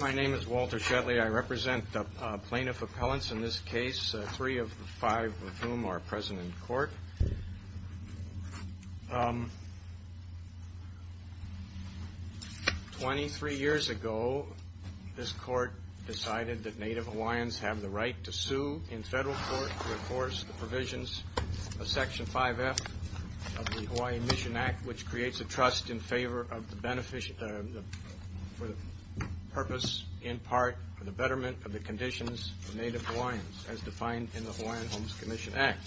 My name is Walter Shetley. I represent the plaintiff appellants in this case, three of five of whom are present in court. 23 years ago, this court decided that Native Hawaiians have the right to sue in federal court to enforce the provisions of Section 5F of the Hawaii Mission Act, which creates a trust in favor of the benefit for the purpose in part for the betterment of the conditions for Native Hawaiians, as defined in the Hawaiian Homes Commission Act.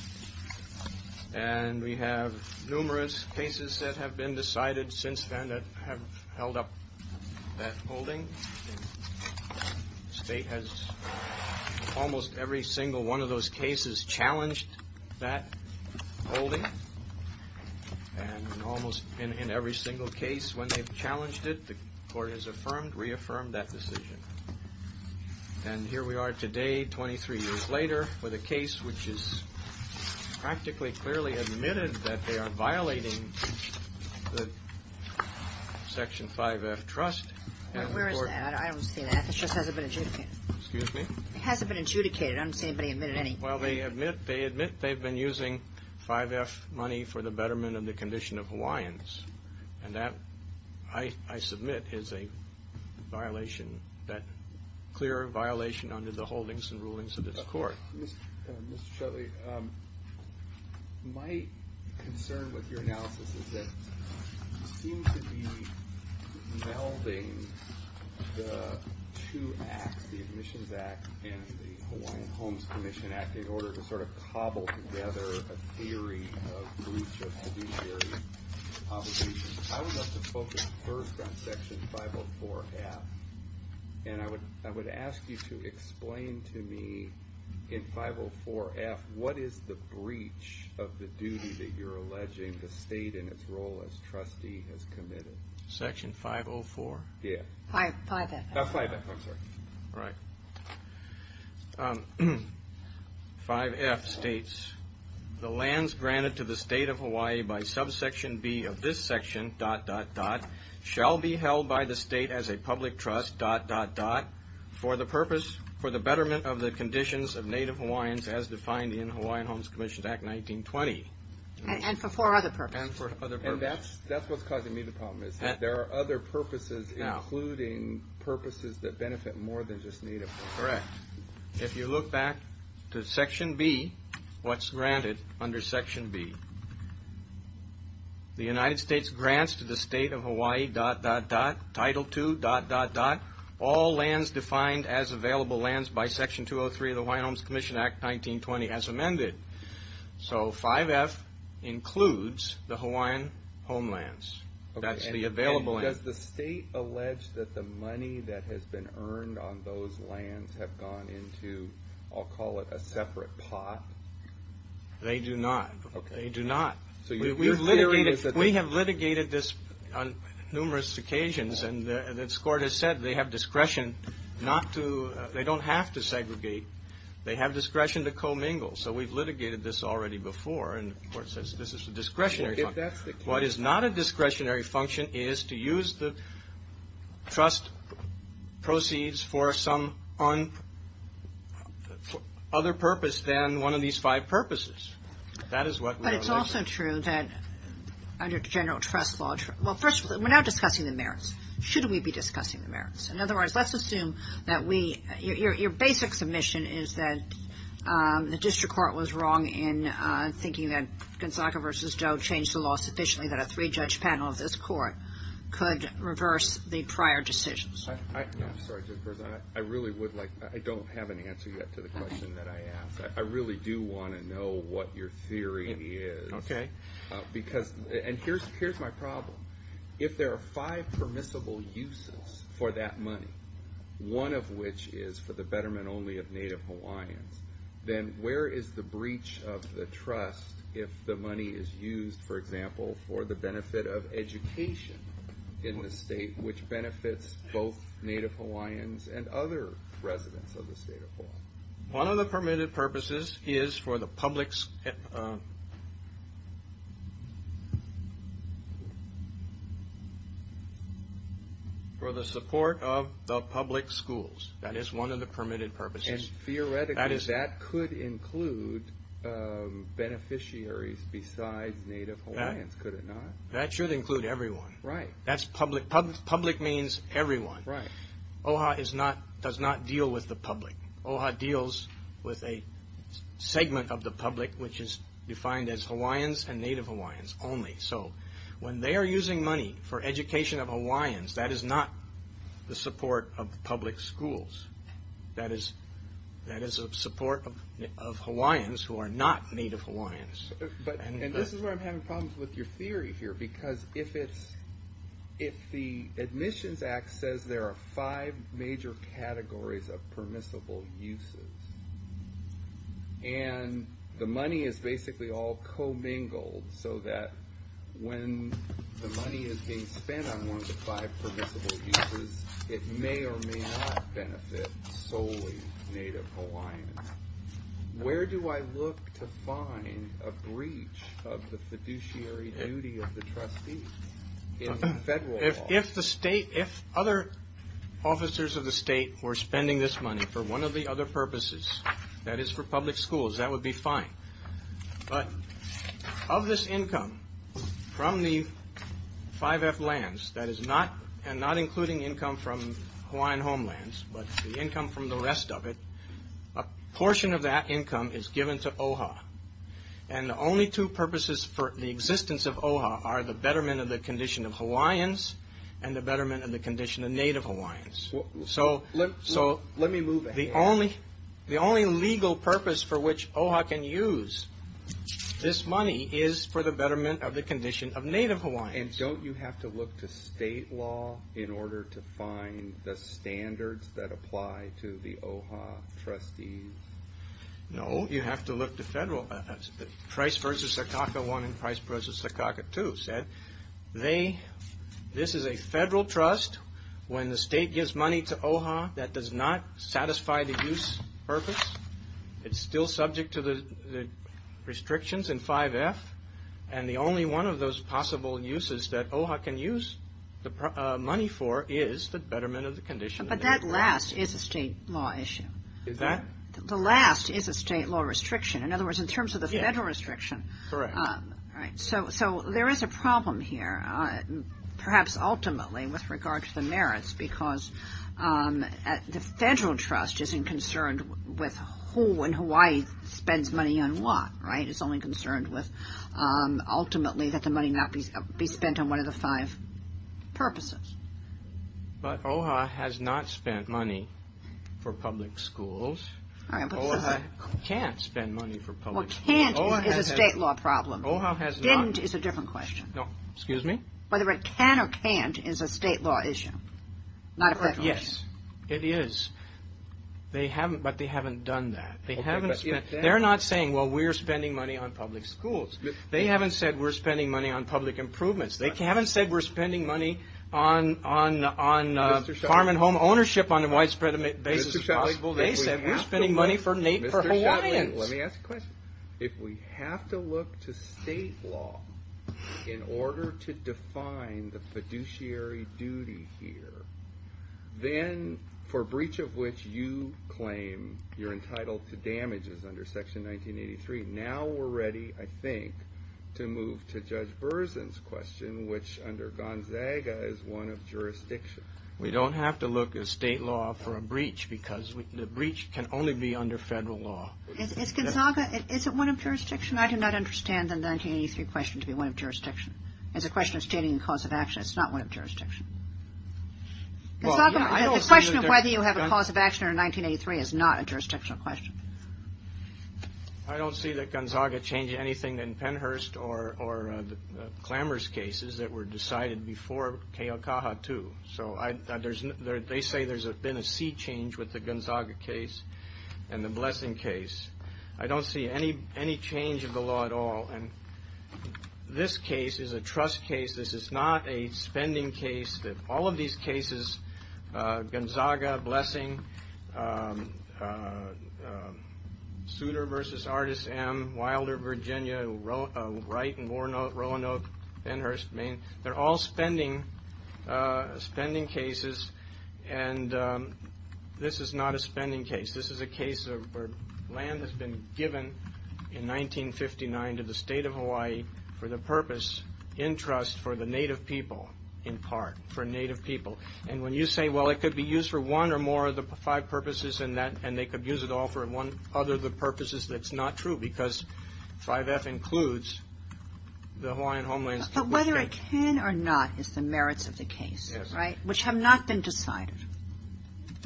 And we have numerous cases that have been decided since then that have held up that holding. The state has almost every single one of those cases challenged that holding. And almost in every single case when they've challenged it, the court has affirmed, reaffirmed that decision. And here we are today, 23 years later, with a case which is practically clearly admitted that they are violating the Section 5F trust. Where is that? I don't see that. This just hasn't been adjudicated. Excuse me? It hasn't been adjudicated. I don't see anybody admitting any. Well, they admit they've been using 5F money for the betterment of the condition of Hawaiians. And that, I submit, is a violation, a clear violation under the holdings and rulings of this court. Mr. Shutley, my concern with your analysis is that you seem to be melding the two acts, the Admissions Act and the Hawaiian Homes Commission Act, in order to sort of cobble together a theory of breach of judiciary obligations. I would like to focus first on Section 504F. And I would ask you to explain to me, in 504F, what is the breach of the duty that you're alleging the state in its role as trustee has committed? Section 504? Yeah. 5F. Oh, 5F. I'm sorry. Right. 5F states, the lands granted to the state of Hawaii by subsection B of this section, dot, dot, dot, shall be held by the state as a public trust, dot, dot, dot, for the purpose, for the betterment of the conditions of Native Hawaiians as defined in Hawaiian Homes Commission Act 1920. And for four other purposes. And for other purposes. That's what's causing me the problem, is that there are other purposes, including purposes that benefit more than just Native Hawaiians. Correct. If you look back to Section B, what's granted under Section B, the United States grants to the state of Hawaii, dot, dot, dot, Title II, dot, dot, dot, all lands defined as available lands by Section 203 of the Hawaiian Homes Commission Act 1920 as amended. So 5F includes the Hawaiian homelands. Okay. That's the available land. And does the state allege that the money that has been earned on those lands have gone into, I'll call it, a separate pot? They do not. Okay. They do not. So your theory is that they We have litigated this on numerous occasions. And this Court has said they have discretion not to, they don't have to segregate. They have discretion to co-mingle. So we've litigated this already before. And the Court says this is a discretionary function. If that's the case. What is not a discretionary function is to use the trust proceeds for some other purpose than one of these five purposes. That is what we are alleging. It's also true that under general trust law, well, first of all, we're not discussing the merits. Should we be discussing the merits? In other words, let's assume that we, your basic submission is that the District Court was wrong in thinking that Gonzaga v. Doe changed the law sufficiently that a three-judge panel of this Court could reverse the prior decisions. I'm sorry, Judge Berzahn. I really would like, I don't have an answer yet to the question that I asked. I really do want to know what your theory is. Okay. Because, and here's my problem. If there are five permissible uses for that money, one of which is for the betterment only of Native Hawaiians, then where is the breach of the trust if the money is used, for example, for the benefit of education in the state, which benefits both Native Hawaiians and other residents of the state of Hawaii? One of the permitted purposes is for the public's, for the support of the public schools. That is one of the permitted purposes. And theoretically, that could include beneficiaries besides Native Hawaiians, could it not? That should include everyone. Right. That's public, public means everyone. Right. OHA is not, does not deal with the public. OHA deals with a segment of the public, which is defined as Hawaiians and Native Hawaiians only. So, when they are using money for education of Hawaiians, that is not the support of public schools. That is, that is a support of Hawaiians who are not Native Hawaiians. But, and this is where I'm having problems with your theory here, because if it's, if the Admissions Act says there are five major categories of permissible uses, and the money is basically all co-mingled, so that when the money is being spent on one of the five permissible uses, it may or may not benefit solely Native Hawaiians. Where do I look to find a breach of the fiduciary duty of the trustee in federal law? If the state, if other officers of the state were spending this money for one of the other purposes, that is for public schools, that would be fine. But, of this income from the 5F lands, that is not, and not including income from Hawaiian homelands, but the income from the rest of it, a portion of that income is given to OHA. And, the only two purposes for the existence of OHA are the betterment of the condition of Hawaiians and the betterment of the condition of Native Hawaiians. So, the only legal purpose for which OHA can use this money is for the betterment of the condition of Native Hawaiians. And, don't you have to look to state law in order to find the standards that apply to the OHA trustees? No, you have to look to federal, Price v. Sakaka I and Price v. Sakaka II said, they, this is a federal trust, when the state gives money to OHA that does not satisfy the use purpose, it's still subject to the restrictions in 5F, and the only one of those possible uses that OHA can use the money for is the betterment of the condition of Native Hawaiians. But, that last is a state law issue. Is that? The last is a state law restriction. In other words, in terms of the federal restriction. Correct. So, there is a problem here, perhaps ultimately with regard to the merits, because the federal trust isn't concerned with who in Hawaii spends money on what, right? It's only concerned with ultimately that the money not be spent on one of the five purposes. But, OHA has not spent money for public schools. OHA can't spend money for public schools. Well, can't is a state law problem. Didn't is a different question. Excuse me? Whether it can or can't is a state law issue, not a federal issue. Yes, it is. They haven't, but they haven't done that. They haven't spent, they're not saying, well, we're spending money on public schools. They haven't said we're spending money on public improvements. They haven't said we're spending money on farm and home ownership on a widespread basis. They said we're spending money for Native Hawaiians. Let me ask a question. If we have to look to state law in order to define the fiduciary duty here, then for breach of which you claim you're entitled to damages under Section 1983, now we're ready, I think, to move to Judge Berzin's question, which under Gonzaga is one of jurisdiction. We don't have to look at state law for a breach, because the breach can only be under federal law. Is Gonzaga, is it one of jurisdiction? I do not understand the 1983 question to be one of jurisdiction. It's a question of stating the cause of action. It's not one of jurisdiction. Gonzaga, the question of whether you have a cause of action under 1983 is not a jurisdictional question. I don't see that Gonzaga changed anything in Penhurst or the Clamor's cases that were decided before Keokaha, too. So they say there's been a sea change with the Gonzaga case and the Blessing case. I don't see any change of the law at all. And this case is a trust case. This is not a spending case. All of these cases, Gonzaga, Blessing, Souter v. Artis M., Wilder, Virginia, Wright v. Roanoke, Penhurst, Maine, they're all spending cases. And this is not a spending case. This is a case where land has been given in 1959 to the state of Hawaii for the purpose, in trust, for the Native people, in part, for Native people. And when you say, well, it could be used for one or more of the five purposes, and they could use it all for one other of the purposes, that's not true. Because 5F includes the Hawaiian homelands. But whether it can or not is the merits of the case, right? Yes. Which have not been decided.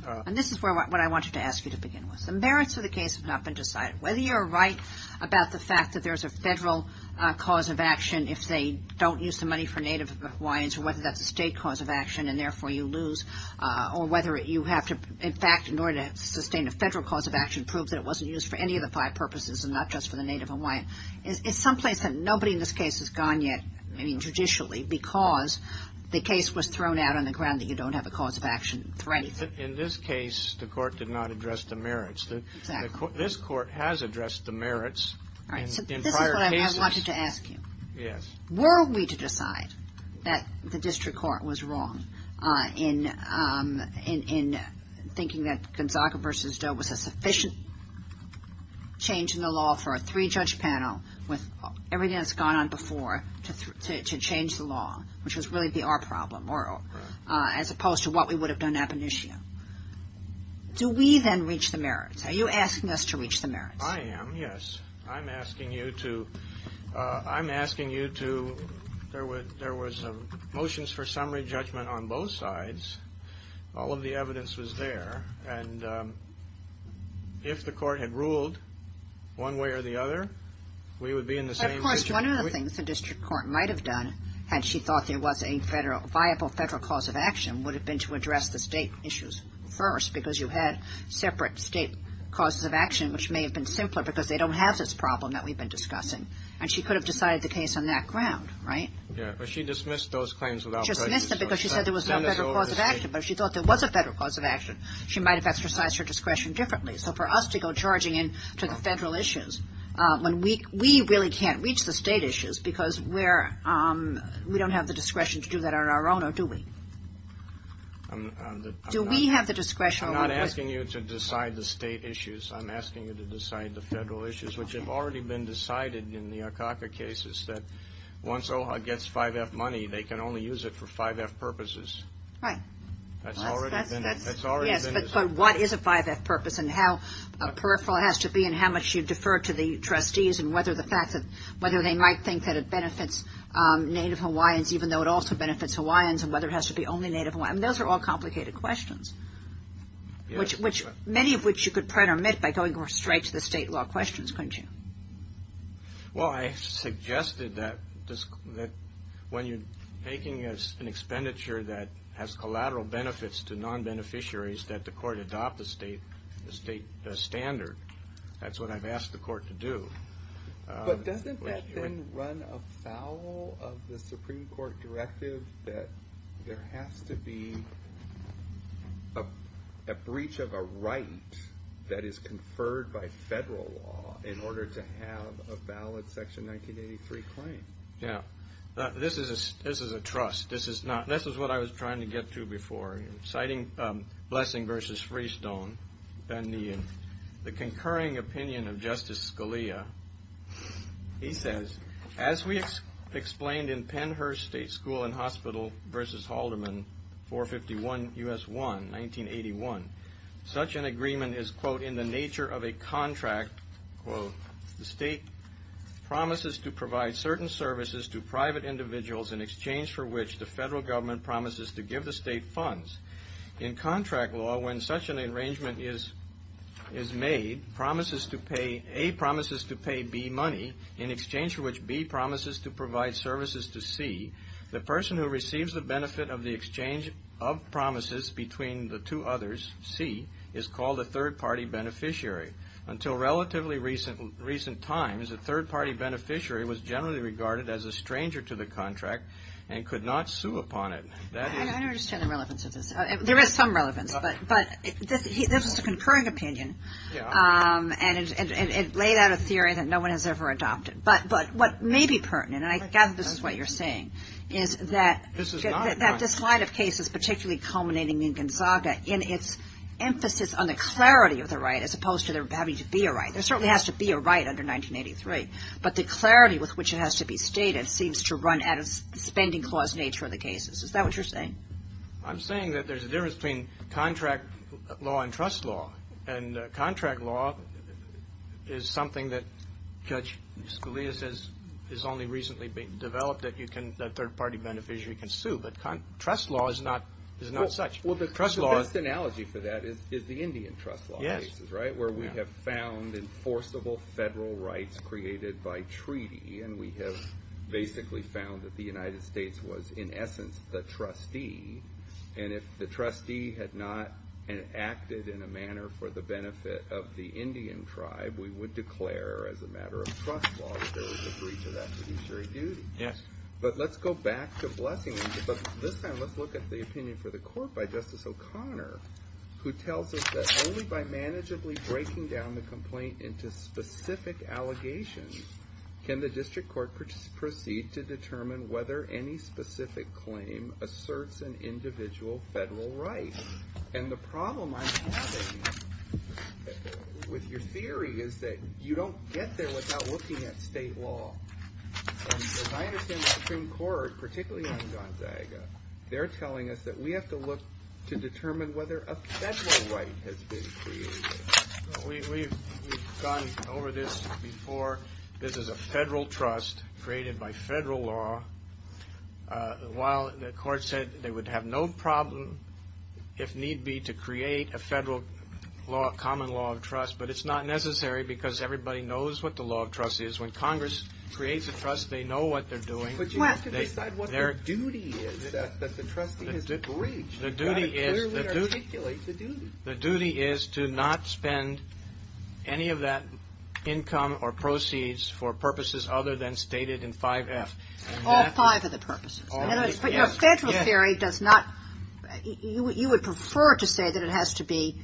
And this is what I wanted to ask you to begin with. The merits of the case have not been decided. Whether you're right about the fact that there's a federal cause of action if they don't use the money for Native Hawaiians, or whether that's a state cause of action and therefore you lose, or whether you have to, in fact, in order to sustain a federal cause of action, prove that it wasn't used for any of the five purposes and not just for the Native Hawaiian. It's someplace that nobody in this case has gone yet, I mean, judicially, because the case was thrown out on the ground that you don't have a cause of action for anything. In this case, the court did not address the merits. Exactly. This court has addressed the merits in prior cases. This is what I wanted to ask you. Yes. Were we to decide that the district court was wrong in thinking that Gonzaga v. Doe was a sufficient change in the law for a three-judge panel with everything that's gone on before to change the law, which would really be our problem, as opposed to what we would have done at Benicio? Do we then reach the merits? Are you asking us to reach the merits? I am, yes. I'm asking you to. I'm asking you to. There was motions for summary judgment on both sides. All of the evidence was there, and if the court had ruled one way or the other, we would be in the same position. Of course, one of the things the district court might have done, had she thought there was a viable federal cause of action, would have been to address the state issues first, because you had separate state causes of action, which may have been simpler, because they don't have this problem that we've been discussing, and she could have decided the case on that ground, right? Yeah, but she dismissed those claims without prejudice. She dismissed them because she said there was no federal cause of action, but if she thought there was a federal cause of action, she might have exercised her discretion differently. So for us to go charging into the federal issues when we really can't reach the state issues, because we don't have the discretion to do that on our own, or do we? Do we have the discretion? I'm not asking you to decide the state issues. I'm asking you to decide the federal issues, which have already been decided in the Akaka cases, that once OHA gets 5F money, they can only use it for 5F purposes. Right. That's already been decided. Yes, but what is a 5F purpose, and how peripheral it has to be, and how much you defer to the trustees, and whether they might think that it benefits Native Hawaiians, even though it also benefits Hawaiians, and whether it has to be only Native Hawaiians. Those are all complicated questions. Yes. Many of which you could pretermit by going straight to the state law questions, couldn't you? Well, I suggested that when you're taking an expenditure that has collateral benefits to non-beneficiaries, that the court adopt the state standard. That's what I've asked the court to do. But doesn't that then run afoul of the Supreme Court directive that there has to be a breach of a right that is conferred by federal law in order to have a valid Section 1983 claim? Yes. This is a trust. This is what I was trying to get to before. Citing Blessing v. Freestone, and the concurring opinion of Justice Scalia, he says, As we explained in Pennhurst State School and Hospital v. Haldeman, 451 U.S. 1, 1981, such an agreement is, quote, in the nature of a contract, quote, the state promises to provide certain services to private individuals in exchange for which the federal government promises to give the state funds. In contract law, when such an arrangement is made, promises to pay, A, promises to pay B money in exchange for which B promises to provide services to C, the person who receives the benefit of the exchange of promises between the two others, C, is called a third-party beneficiary. Until relatively recent times, a third-party beneficiary was generally regarded as a stranger to the contract and could not sue upon it. I don't understand the relevance of this. There is some relevance, but this is a concurring opinion. And it laid out a theory that no one has ever adopted. But what may be pertinent, and I gather this is what you're saying, is that this line of cases, particularly culminating in Gonzaga, in its emphasis on the clarity of the right as opposed to there having to be a right. There certainly has to be a right under 1983, but the clarity with which it has to be stated seems to run out of spending clause nature of the cases. Is that what you're saying? I'm saying that there's a difference between contract law and trust law and contract law is something that Judge Scalia says is only recently developed that a third-party beneficiary can sue, but trust law is not such. Well, the best analogy for that is the Indian trust law cases, right? Yes. Where we have found enforceable federal rights created by treaty and we have basically found that the United States was in essence the trustee and if the trustee had not acted in a manner for the benefit of the Indian tribe, we would declare as a matter of trust law that there was a breach of that fiduciary duty. Yes. But let's go back to Blessings, but this time let's look at the opinion for the court by Justice O'Connor who tells us that only by manageably breaking down the complaint into specific allegations can the district court proceed to determine whether any specific claim asserts an individual federal right and the problem I'm having with your theory is that you don't get there without looking at state law and as I understand the Supreme Court, particularly on Gonzaga, they're telling us that we have to look to determine whether a federal right has been created. We've gone over this before. This is a federal trust created by federal law while the court said they would have no problem if need be to create a federal common law of trust but it's not necessary because everybody knows what the law of trust is. When Congress creates a trust, they know what they're doing. But you have to decide what the duty is that the trustee has breached. You have to clearly articulate the duty. The duty is to not spend any of that income or proceeds for purposes other than stated in 5F. All five of the purposes. But your federal theory does not you would prefer to say that it has to be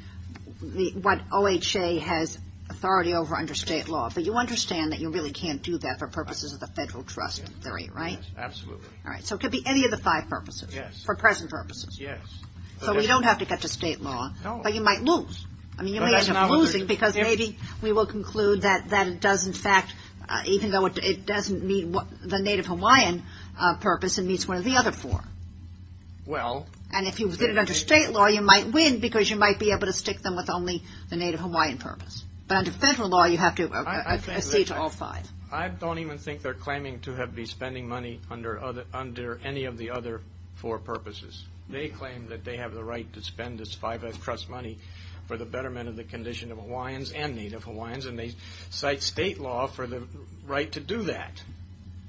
what OHA has authority over under state law but you understand that you really can't do that for purposes of the federal trust theory, right? So it could be any of the five purposes. For present purposes. So we don't have to get to state law but you might lose. You may end up losing because maybe we will conclude that it does in fact even though it doesn't meet the Native Hawaiian purpose it meets one of the other four. And if you get it under state law you might win because you might be able to stick them with only the Native Hawaiian purpose. But under federal law you have to accede to all five. I don't even think they're claiming to be spending money under any of the other four purposes. They claim that they have the right to spend this 5F trust money for the betterment of the condition of Hawaiians and Native Hawaiians and they cite state law for the right to do that.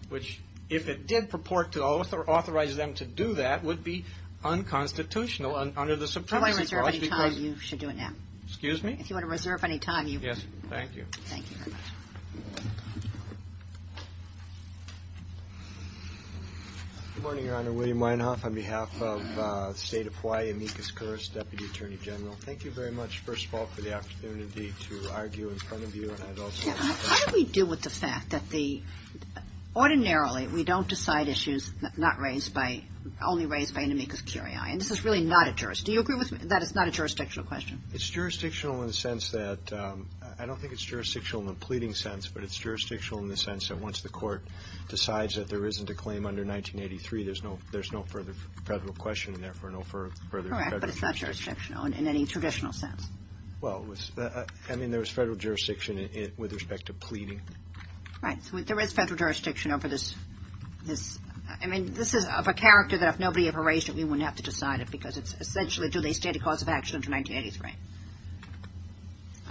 Which if it did purport to authorize them to do that would be unconstitutional under the Supreme Court's laws. If you want to reserve any time you should do it now. Yes, thank you. Thank you very much. Good morning Your Honor William Weinhof on behalf of the state of Hawaii, Amicus Curris Deputy Attorney General. Thank you very much first of all for the opportunity to argue in front of you. How do we deal with the fact that ordinarily we don't decide issues only raised by Amicus Curris. Do you agree that it's not a jurisdictional question? It's jurisdictional in the sense that I don't think it's jurisdictional in the pleading sense, but it's jurisdictional in the sense that once the court decides that there isn't a claim under 1983 there's no further federal question and therefore no further federal jurisdiction. Correct, but it's not jurisdictional in any traditional sense. Well, I mean there's federal jurisdiction with respect to pleading. Right, so there is federal jurisdiction over this I mean this is of a character that if nobody had raised it we wouldn't have to decide it because it's essentially do they stand a cause of action under 1983?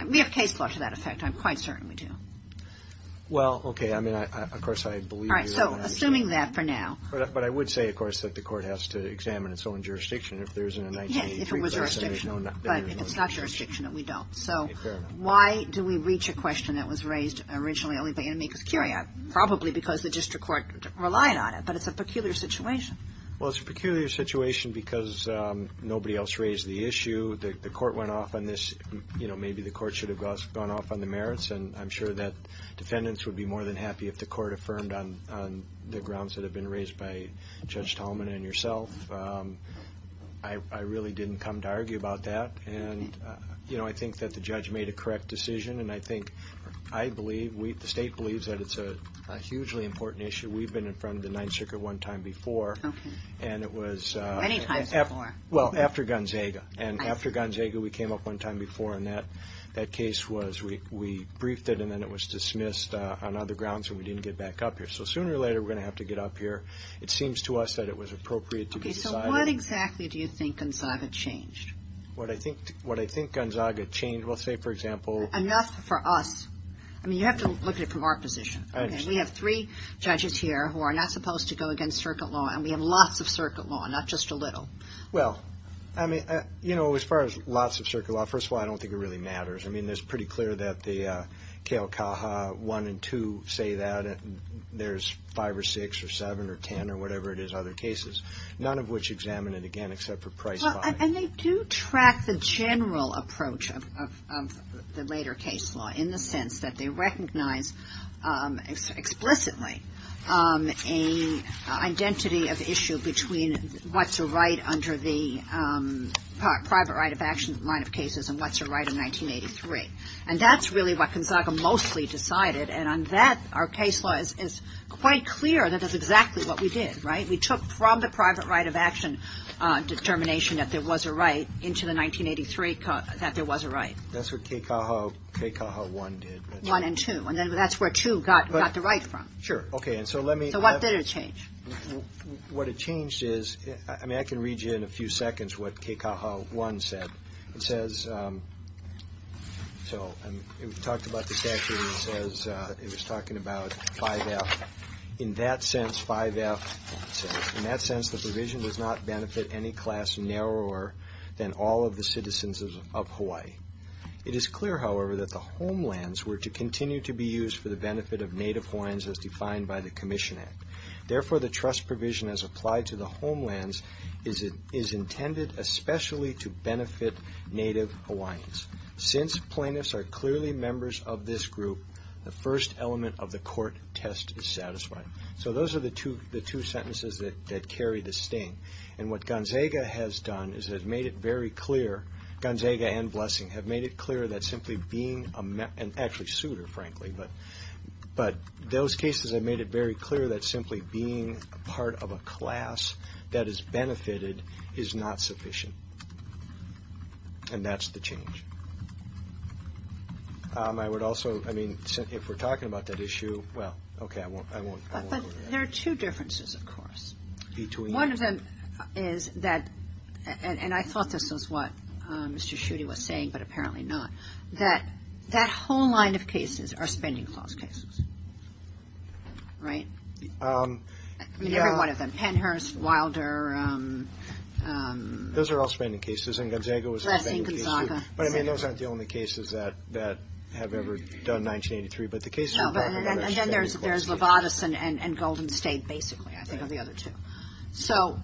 We have case law to that effect, I'm quite certain we do. Well, okay I mean of course I believe Alright, so assuming that for now But I would say of course that the court has to examine its own jurisdiction if there isn't a 1983 But if it's not jurisdictional then we don't So why do we reach a question that was raised originally only by Anamikos Curia? Probably because the district court relied on it but it's a peculiar situation Well, it's a peculiar situation because nobody else raised the issue the court went off on this maybe the court should have gone off on the merits and I'm sure that defendants would be more than happy if the court affirmed on the grounds that have been raised by Judge Talman and yourself I really didn't come to argue about that and I think that the judge made a correct decision and I think I believe, the state believes that it's a hugely important issue we've been in front of the 9th Circuit one time before and it was Well, after Gonzaga and after Gonzaga we came up one time before and that case was we briefed it and then it was dismissed on other grounds and we didn't get back up here so sooner or later we're going to have to get up here It seems to us that it was appropriate to be decided So what exactly do you think Gonzaga changed? What I think Gonzaga changed, well say for example Enough for us I mean you have to look at it from our position We have three judges here who are not supposed to go against circuit law and we have lots of circuit law, not just a little Well, I mean as far as lots of circuit law, first of all I don't think it really matters, I mean it's pretty clear that the Keokaha 1 and 2 say that there's 5 or 6 or 7 or 10 or whatever it is, other cases None of which examine it again except for Price 5 And they do track the general approach of the later case law in the sense that they recognize explicitly an identity of issue between what's a right under the private right of action and what's a right in 1983 and that's really what Gonzaga mostly decided and on that our case law is quite clear that that's exactly what we did, right? We took from the private right of action determination that there was a right into the 1983 that there was a right That's what Keokaha 1 did 1 and 2 and that's where 2 got the right from So what did it change? What it changed is I can read you in a few seconds what Keokaha 1 said It says We talked about the statutes as it was talking about 5F In that sense 5F says, in that sense the provision does not benefit any class narrower than all of the citizens of Hawaii It is clear however that the homelands were to continue to be used for the benefit of native Hawaiians as defined by the Commission Act Therefore the trust provision as applied to the homelands is intended especially to benefit native Hawaiians Since plaintiffs are clearly members of this group the first element of the court test is satisfied So those are the two sentences that carry the sting and what Gonzaga has done is made it very clear Gonzaga and Blessing have made it clear that simply being actually suitor frankly but those cases have made it very clear that simply being part of a class that is benefited is not sufficient and that's the change I would also I mean if we're talking about that issue well okay I won't There are two differences of course One of them is that and I thought this was what Mr. Schutte was saying but apparently not that whole line of cases are spending clause cases right I mean every one of them Pennhurst, Wilder Those are all spending cases and Gonzaga was a spending case but I mean those aren't the only cases that have ever done 1983 but the cases we're talking about are spending clauses And then there's Levatas and Golden State basically I think are the other two So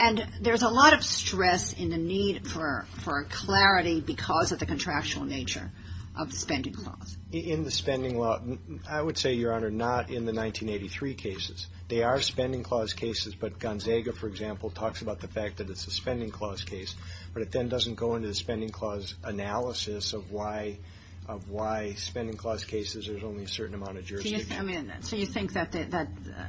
and there's a lot of stress in the need for clarity because of the contractual nature of the spending clause In the spending law I would say Your Honor not in the 1983 cases. They are spending clause cases but Gonzaga for example talks about the fact that it's a spending clause case but it then doesn't go into the spending clause analysis of why of why spending clause cases there's only a certain amount of jurisdiction So you think that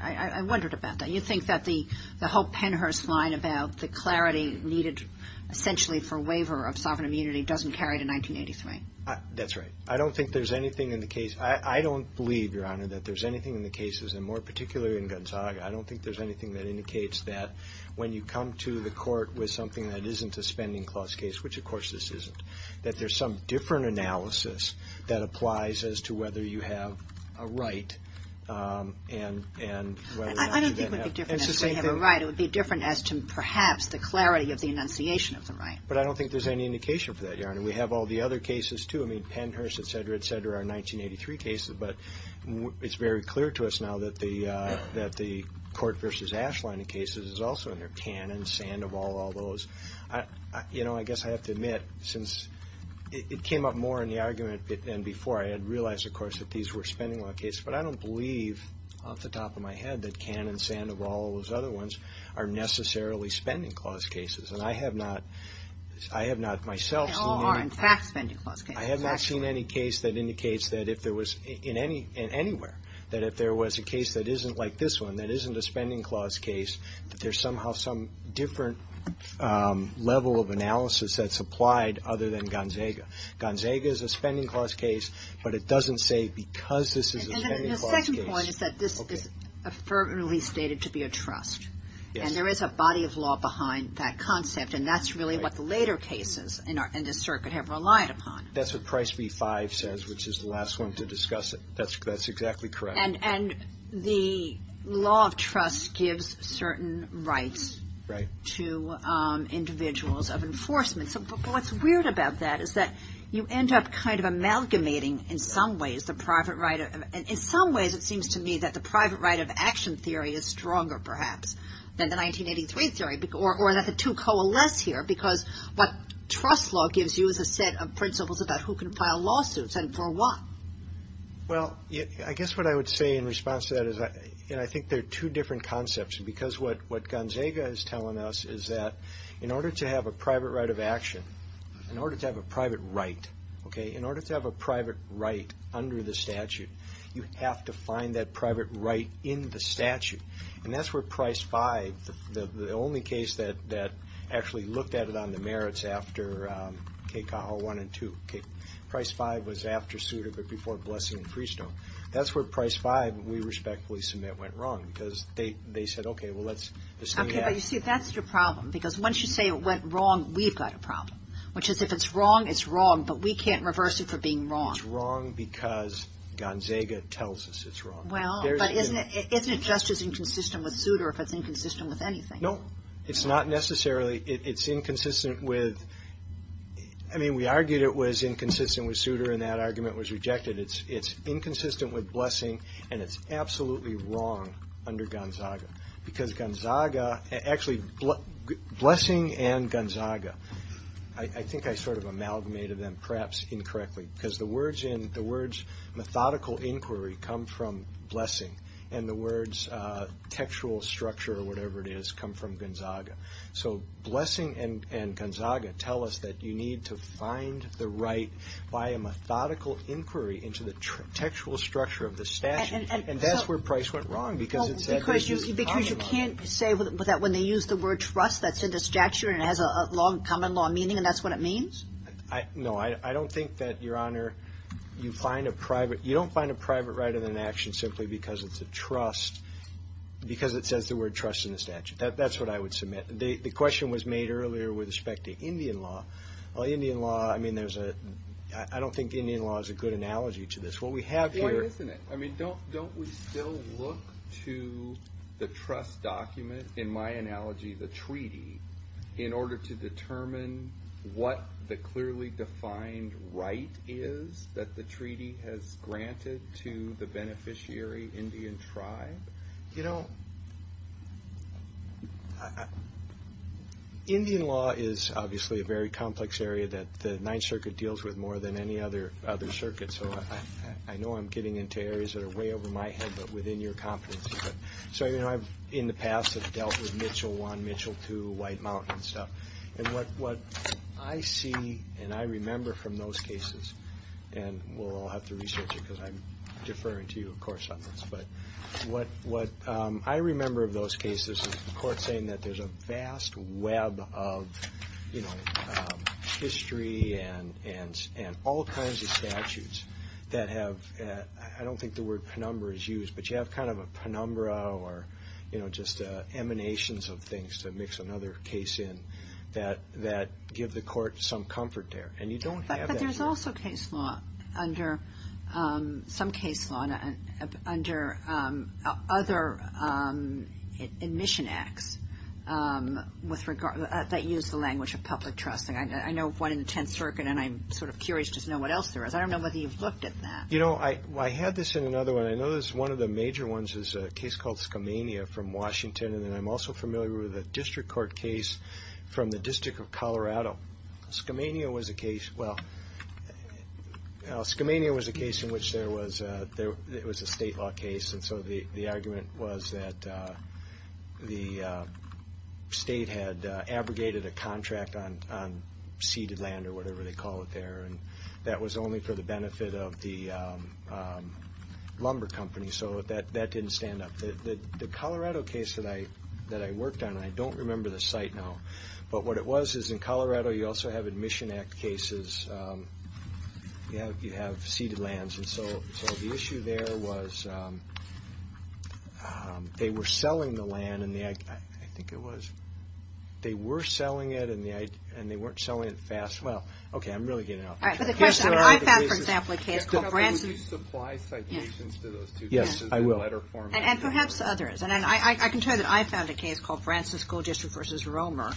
I wondered about that. You think that the whole Pennhurst line about the clarity needed essentially for waiver of sovereign immunity doesn't carry to 1983 That's right. I don't think there's anything in the case. I don't believe Your Honor that there's anything in the cases and more particularly in Gonzaga. I don't think there's anything that indicates that when you come to the court with something that isn't a spending clause case, which of course this isn't that there's some different analysis that applies as to whether you have a right and whether I don't think it would be different as to whether you have a right It would be different as to perhaps the clarity of the enunciation of the right. But I don't think there's any enunciation for that, Your Honor. We have all the other cases too. I mean Pennhurst, et cetera, et cetera 1983 cases, but it's very clear to us now that the that the Court v. Ashline in cases is also in there. Cannon, Sandoval, all those I guess I have to admit since it came up more in the argument than before. I had realized of course that these were spending law cases, but I don't believe off the top of my head that Cannon, Sandoval all those other ones are necessarily spending clause cases and I have not myself seen any I have not seen any case that indicates that if there was anywhere that if there was a case that isn't like this one, that isn't a spending clause case that there's somehow some different level of analysis that's applied other than Gonzaga. Gonzaga is a spending clause case, but it doesn't say because this is a spending clause case The second point is that this is stated to be a trust and there is a body of law behind that concept and that's really what the later cases in this circuit have relied upon. That's what Price v. Five says which is the last one to discuss it that's exactly correct The law of trust gives certain rights to individuals of enforcement What's weird about that is that you end up kind of amalgamating in some ways the private right of it seems to me that the private right of action theory is stronger perhaps than the 1983 theory or that the two coalesce here because what trust law gives you is a set of principles about who can file lawsuits and for what? I guess what I would say in response to that is I think there are two different concepts because what Gonzaga is telling us is that in order to have a private right of action in order to have a private right in order to have a private right under the statute you have to find that private right in the statute and that's where Price v the only case that actually looked at it on the merits after Price v was after Suda but before Blessing and Freestone that's where Price v we respectfully submit went wrong because they said okay well let's assume that That's your problem because once you say it went wrong we've got a problem which is if it's wrong it's wrong but we can't reverse it for being wrong It's wrong because Gonzaga tells us it's wrong Isn't it just as inconsistent with Suda if it's inconsistent with anything? No it's not necessarily it's inconsistent with I mean we argued it was inconsistent with Suda and that argument was rejected it's inconsistent with Blessing and it's absolutely wrong under Gonzaga because Gonzaga actually Blessing and Gonzaga I think I sort of amalgamated perhaps incorrectly because the words methodical inquiry come from Blessing and the words textual structure or whatever it is come from Gonzaga so Blessing and Gonzaga tell us that you need to find the right by a methodical inquiry into the textual structure of the statute and that's where Price went wrong because you can't say that when they use the word trust that's in the statute and it has a common law meaning and that's what it means? No I don't think that your honor you don't find a private right in an action simply because it's a trust because it says the word trust in the statute that's what I would submit the question was made earlier with respect to Indian law I don't think Indian law is a good analogy to this Why isn't it? Don't we still look to the trust document in my analogy the treaty in order to determine what the clearly defined right is that the treaty has granted to the beneficiary Indian tribe? You know Indian law is obviously a very complex area that the Ninth Circuit deals with more than any other circuit so I know I'm getting into areas that are way over my head but within your competency so you know I've in the past dealt with Mitchell 1, Mitchell 2 White Mountain stuff and what I see and I remember from those cases and we'll all have to research it because I'm deferring to you of course on this but what I remember of those cases is the court saying that there's a vast web of you know history and all kinds of statutes that have I don't think the word penumbra is used but you have kind of a penumbra or you know just emanations of things to mix another case in that give the court some comfort there and you don't have that here. But there's also case law under some case law under other admission acts that use the language of public trusting I know one in the Tenth Circuit and I'm sort of curious to know what else there is I don't know whether you've looked at that. You know I had this in another one I know one of the major ones is a case called Skamania from Washington and I'm also familiar with a district court case from the District of Colorado Skamania was a case well Skamania was a case in which there was it was a state law case and so the argument was that the state had abrogated a contract on ceded land or whatever they call it there and that was only for the benefit of the lumber company so that didn't stand up the Colorado case that I worked on I don't remember the site now but what it was is in Colorado you also have admission act cases you have ceded lands and so the issue there was they were selling the land they were selling it and they weren't selling it fast well okay I'm really getting out there I found for example a case would you supply citations to those two cases in letter form and perhaps others and I can tell you that I found a case called Branson School District vs. Romer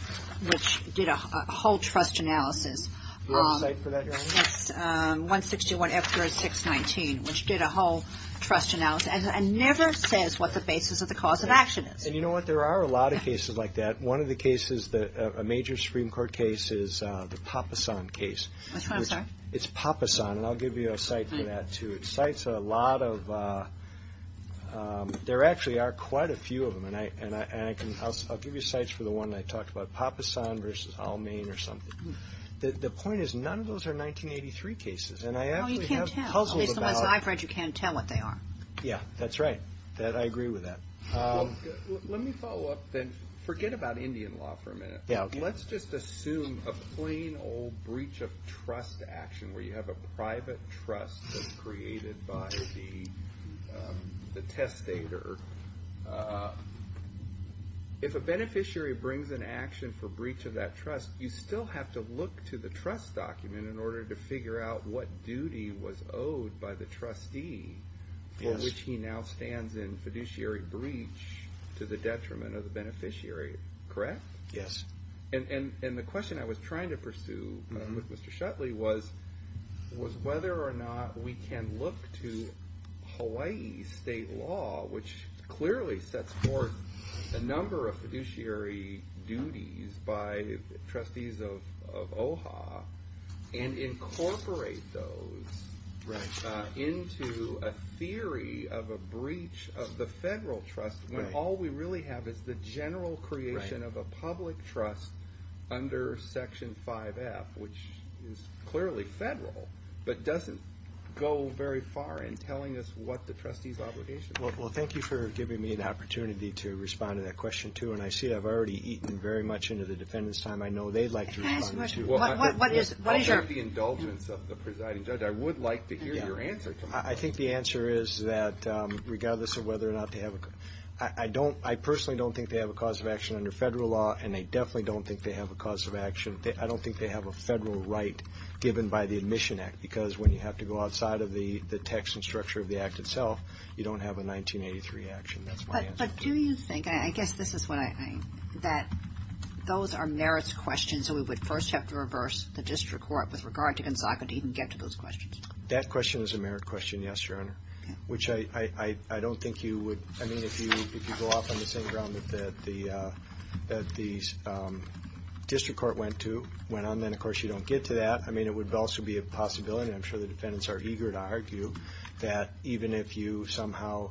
which did a whole trust analysis do you have a site for that your honor 161 F3619 which did a whole trust analysis and never says what the basis of the cause of action is and you know what there are a lot of cases like that one of the cases a major Supreme Court case is the Papasan case which it's Papasan and I'll give you a site for that too it cites a lot of there actually are quite a few of them and I'll give you sites for the one I talked about Papasan vs. Almayne or something the point is none of those are 1983 cases and I actually have puzzles at least the ones I've read you can't tell what they are yeah that's right I agree with that let me follow up then forget about Indian law for a minute let's just assume a plain old breach of trust action where you have a private trust that's created by the testator if a beneficiary brings an action for breach of that trust you still have to look to the trust document in order to figure out what duty was owed by the trustee for which he now stands in fiduciary breach to the detriment of the beneficiary correct yes and the question I was trying to pursue with Mr. Shutley was whether or not we can look to Hawaii's state law which clearly sets forth a number of fiduciary duties by trustees of OHA and incorporate those into a theory of a breach of the federal trust when all we really have is the general creation of a public trust under section 5F which is clearly federal but doesn't go very far in telling us what the trustee's obligation is well thank you for giving me an opportunity to respond to that question too and I see I've already eaten very much into the defendant's time I know they'd like to respond what is your indulgence of the presiding judge I would like to hear your answer I think the answer is that regardless of whether or not I don't I personally don't think they have a cause of action under federal law and I definitely don't think they have a cause of action I don't think they have a federal right given by the admission act because when you have to go outside of the text and structure of the act itself you don't have a 1983 action that's my answer but do you think I guess this is what I that those are merits questions so we would first have to reverse the district court with regard to Gonzaga to even get to those questions that question is a merit question yes your honor which I don't think you would I mean if you go off on the same ground that the district court went on then of course you don't get to that I mean it would also be a possibility I'm sure the defendants are eager to argue that even if you somehow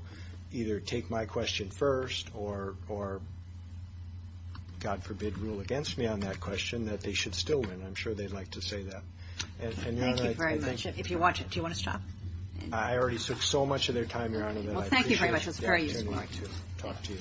either take my question first or God forbid rule against me on that question that they should still win I'm sure they'd like to say that thank you very much if you want to do you want to stop I already took so much of their time your honor that I appreciate the opportunity to talk to you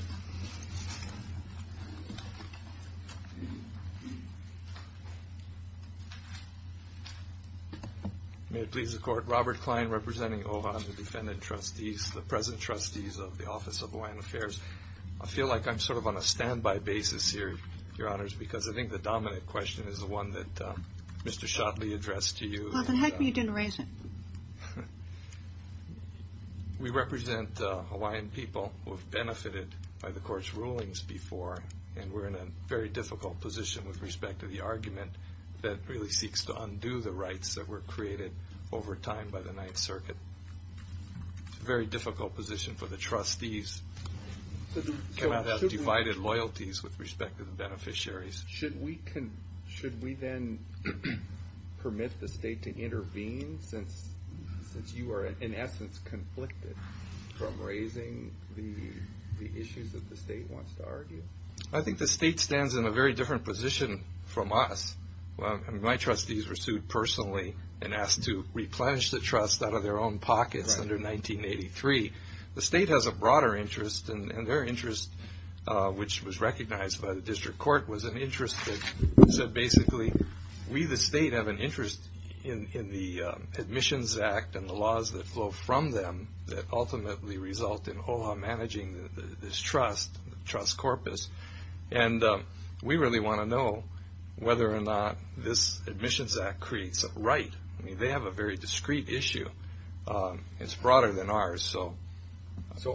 Robert Klein representing the defendant trustees the present trustees of the office of Hawaiian affairs I feel like I'm sort of on a standby basis here your honors because I think the dominant question is the one that Mr. Shotley addressed to you well then how come you didn't raise it we represent Hawaiian people who have benefited by the courts rulings before and we're in a very difficult position with respect to the argument that really seeks to undo the rights that were created over time by the 9th circuit very difficult position for the trustees to not have divided loyalties with respect to the beneficiaries should we then permit the state to intervene since you are in essence conflicted from raising the issues that the state wants to argue I think the state stands in a very different position from us my trustees were sued personally and asked to replenish the trust out of their own pockets under 1983 the state has a broader interest and their interest which was recognized by the district court was an interest that we the state have an interest in the admissions act and the laws that flow from them that ultimately result in OHA managing this trust trust corpus and we really want to know whether or not this admissions act creates a right they have a very discreet issue it's broader than ours so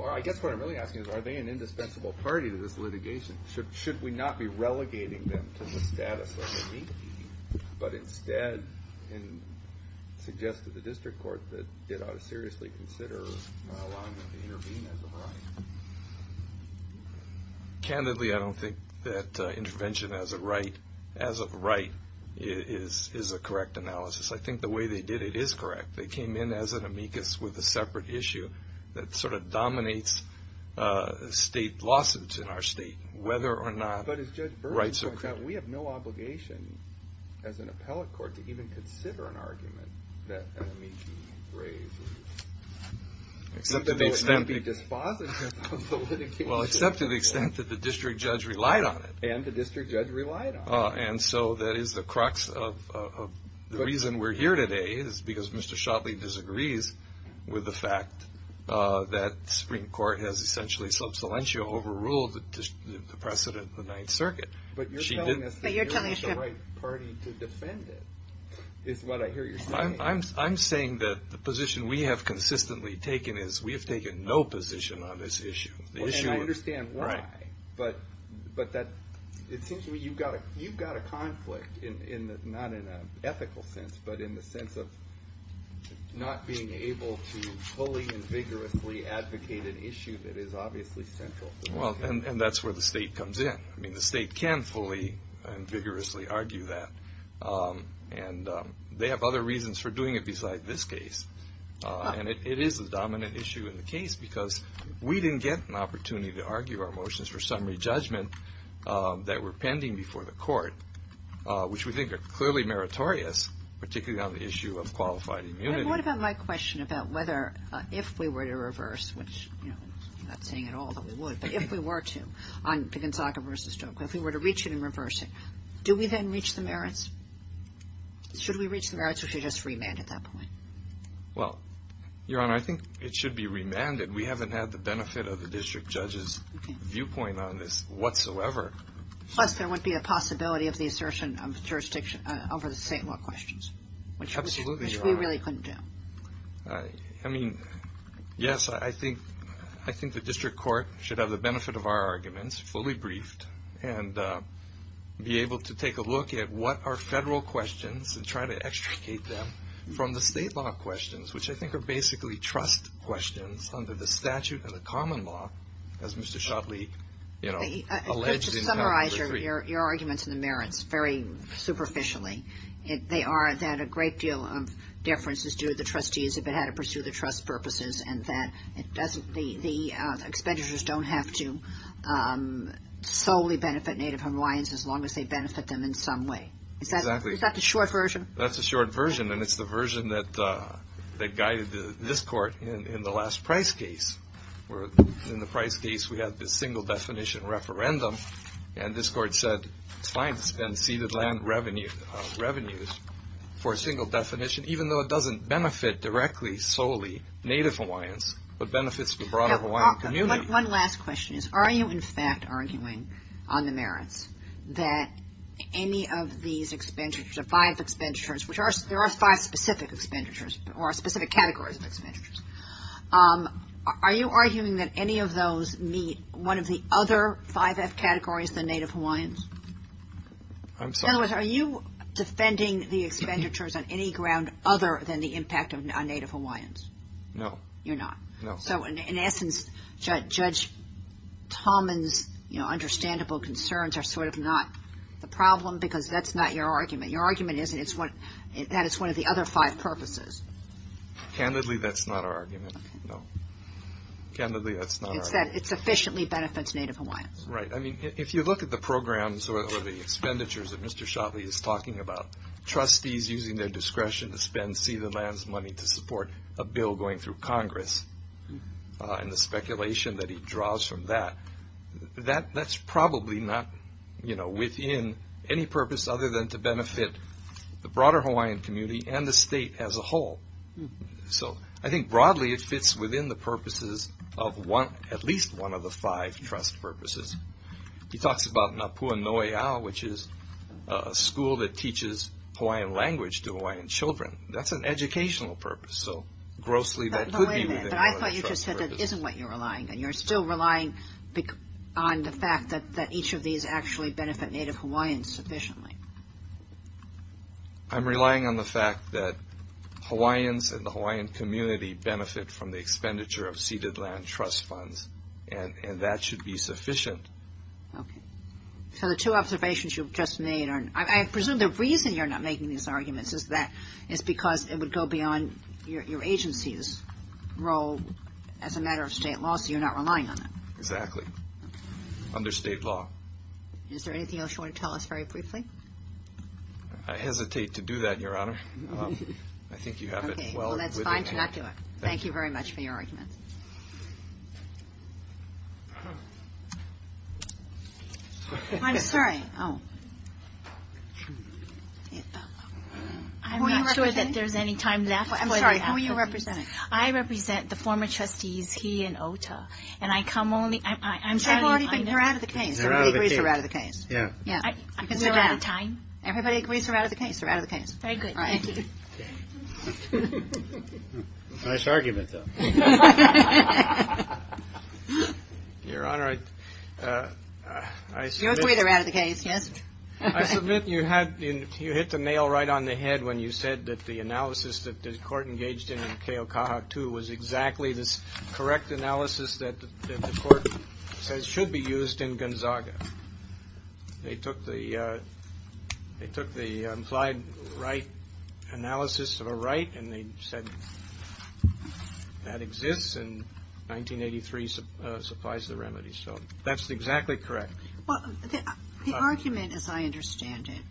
I guess what I'm really asking are they an indispensable party to this litigation should we not be relegating them to the status of an amicus but instead suggest to the district court that it ought to seriously consider allowing them to intervene as a right candidly I don't think that intervention as a right is a correct analysis I think the way they did it is correct they came in as an amicus with a separate issue that sort of dominates state lawsuits in our state whether or not rights are created we have no obligation as an appellate court to even consider an argument except to the extent that the district judge relied on it and the district judge relied on it and so that is the crux of the reason we're here today is because Mr. Shotley disagrees with the fact that the Supreme Court has essentially sub saliencio overruled the precedent of the Ninth Circuit but you're telling us that you're the right party to defend it is what I hear you saying I'm saying that the position we have consistently taken is we have taken no position on this issue and I understand why but it seems to me you've got a conflict not in an ethical sense but in the sense of not being able to fully and vigorously advocate an issue that is obviously central and that's where the state comes in the state can fully and vigorously argue that and they have other reasons for doing it besides this case and it is a dominant issue in the case because we didn't get an opportunity to argue our motions for summary judgment that were pending before the court which we think are clearly meritorious particularly on the issue of qualified immunity What about my question about whether if we were to reverse I'm not saying at all that we would but if we were to on the Gonzaga vs. Stoke if we were to reach it and reverse it do we then reach the merits? Should we reach the merits or should we just remand at that point? Your Honor, I think it should be remanded we haven't had the benefit of the district judge's viewpoint on this whatsoever Plus there wouldn't be a possibility of the assertion of jurisdiction over the state law questions Absolutely, Your Honor which we really couldn't do Yes, I think the district court should have the benefit of our arguments fully briefed and be able to take a look at what are federal questions and try to extricate them from the state law questions which I think are basically trust questions under the statute of the common law as Mr. Shotley alleged in House Bill 3 Your arguments in the merits very superficially they are that a great deal of deference is due to the trustees if it had to pursue the trust purposes and that the expenditures don't have to solely benefit Native Hawaiians as long as they benefit them in some way Is that the short version? That's the short version and it's the version that guided this court in the last price case where in the price case we had a single definition referendum and this court said it's fine to spend ceded land revenues for a single definition even though it doesn't benefit directly solely Native Hawaiians but benefits the broader Hawaiian community One last question, are you in fact arguing on the merits that any of these expenditures, the five expenditures there are five specific expenditures or specific categories of expenditures are you arguing that any of those meet one of the other 5F categories than Native Hawaiians? In other words, are you defending the expenditures on any ground other than the impact on Native Hawaiians? No. So in essence Judge Talman's understandable concerns are sort of not the problem because that's not your argument. Your argument is that it's one of the other five purposes Candidly that's not our argument Candidly that's not our argument It's that it sufficiently benefits Native Hawaiians Right, I mean if you look at the programs or the expenditures that Mr. Shotley is talking about trustees using their discretion to spend ceded lands money to support a bill going through Congress and the speculation that he draws from that, that's probably not within any purpose other than to benefit the broader Hawaiian community and the state as a whole So I think broadly it fits within the purposes of at least one of the five trust purposes. He talks about Napua Noe Ao which is a school that teaches Hawaiian language to Hawaiian children That's an educational purpose But wait a minute, I thought you just said that isn't what you're relying on. You're still relying on the fact that each of these actually benefit Native Hawaiians sufficiently I'm relying on the Hawaiian community benefit from the expenditure of ceded land trust funds and that should be sufficient So the two observations you just made I presume the reason you're not making these arguments is that it's because it would go beyond your agency's role as a matter of state law so you're not relying on it Exactly. Under state law Is there anything else you want to tell us very briefly? I hesitate to do that, Your Honor I think you have it That's fine. Thank you very much for your argument I'm sorry Who are you representing? I'm sorry, who are you representing? I represent the former trustees He and Ota They're out of the case Everybody agrees they're out of the case We're out of time Everybody agrees they're out of the case Thank you Nice argument though Your Honor You agree they're out of the case I submit you hit the nail right on the head when you said that the analysis that the court engaged in in Keokaha II was exactly this correct analysis that the court says should be used in Gonzaga They took the they took the implied right analysis of a right and they said that exists and 1983 supplies the remedy so that's exactly correct The argument as I understand it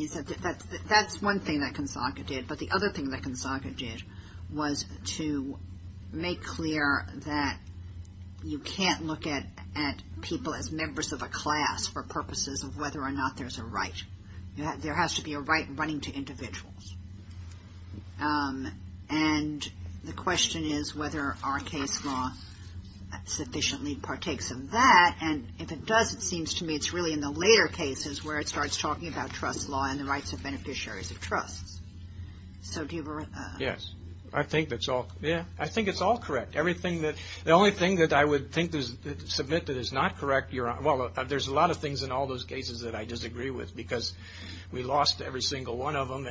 is that that's one thing that Gonzaga did but the other thing that Gonzaga did was to make clear that you can't look at people as members of a class for purposes of whether or not there's a right There has to be a right running to individuals and the question is whether our case law sufficiently partakes of that and if it does it seems to me it's really in the later cases where it starts talking about trust law and the rights of beneficiaries of trusts Yes I think that's all I think it's all correct The only thing that I would submit that is not correct there's a lot of things in all those cases that I disagree with because we lost every single one of them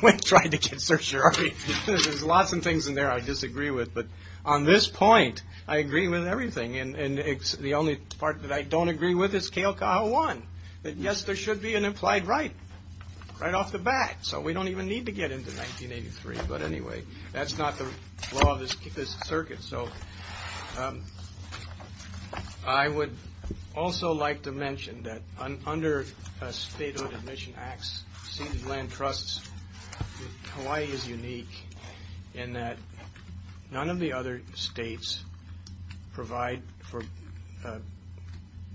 when trying to get certiorari There's lots of things in there I disagree with but on this point I agree with everything The only part that I don't agree with is Keokaha I Yes there should be an implied right right off the bat so we don't even need to get into 1983 but anyway That's not the law of this circuit so I would also like to mention that under statehood admission acts seated land trusts Hawaii is unique in that none of the other states provide for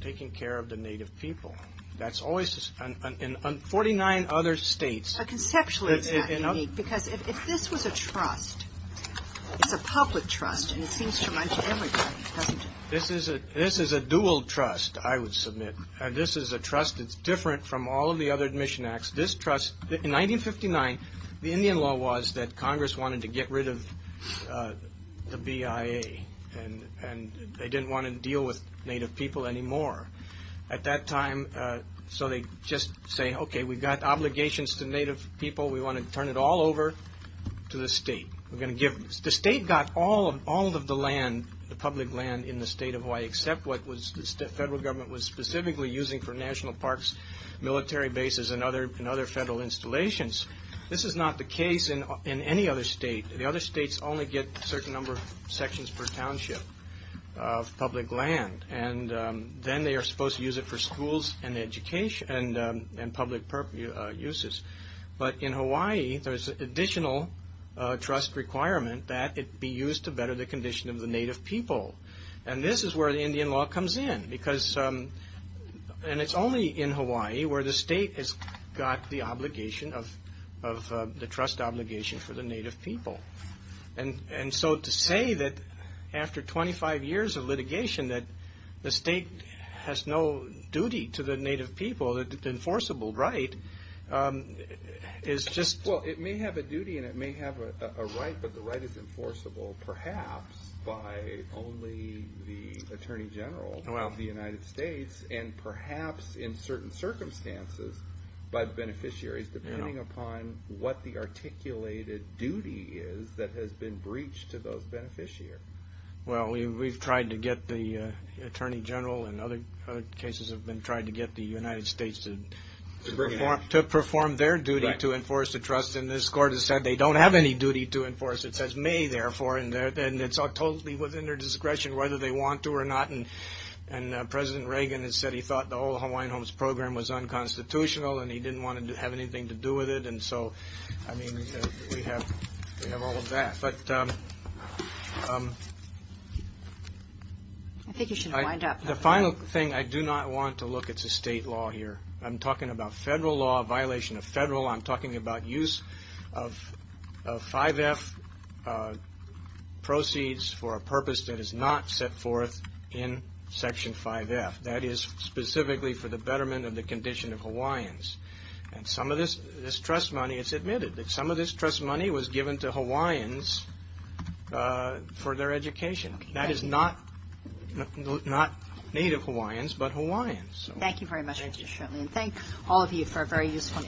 taking care of the native people in 49 other states Conceptually it's not unique because if this was a trust it's a public trust and it seems to run to everybody This is a dual trust I would submit it's different from all of the other admission acts In 1959 the Indian law was that congress wanted to get rid of the BIA and they didn't want to deal with native people anymore at that time so they just say okay we've got obligations to native people we want to turn it all over to the state The state got all of the land, the public land in the state of Hawaii except what the federal government was specifically using for national parks, military bases and other federal installations This is not the case in any other state. The other states only get a certain number of sections per township of public land and then they are supposed to use it for schools and education and public purposes but in Hawaii there's an additional trust requirement that it be used to better the condition of the native people and this is where the Indian law comes in because and it's only in Hawaii where the state has got the obligation of the trust obligation for the native people and so to say that after 25 years of litigation the state has no duty to the native people enforceable right is just Well it may have a duty and it may have a right but the right is enforceable perhaps by only the Attorney General of the United States and perhaps in certain circumstances by beneficiaries depending upon what the articulated duty is that has been breached to those beneficiaries Well we've tried to get the United States to perform their duty to enforce the trust and this court has said they don't have any duty to enforce it says may therefore and it's totally within their discretion whether they want to or not and President Reagan has said he thought the whole Hawaiian Homes program was unconstitutional and he didn't want to have anything to do with it and so we have all of that I think you should wind up The final thing I do not want to look at the state law here. I'm talking about federal law, violation of federal law I'm talking about use of 5F proceeds for a purpose that is not set forth in section 5F that is specifically for the betterment of the condition of Hawaiians and some of this trust money, it's admitted that some of this trust money was given to Hawaiians for their education that is not Native Hawaiians, but Hawaiians Thank you very much and thank all of you for a very useful and interesting argument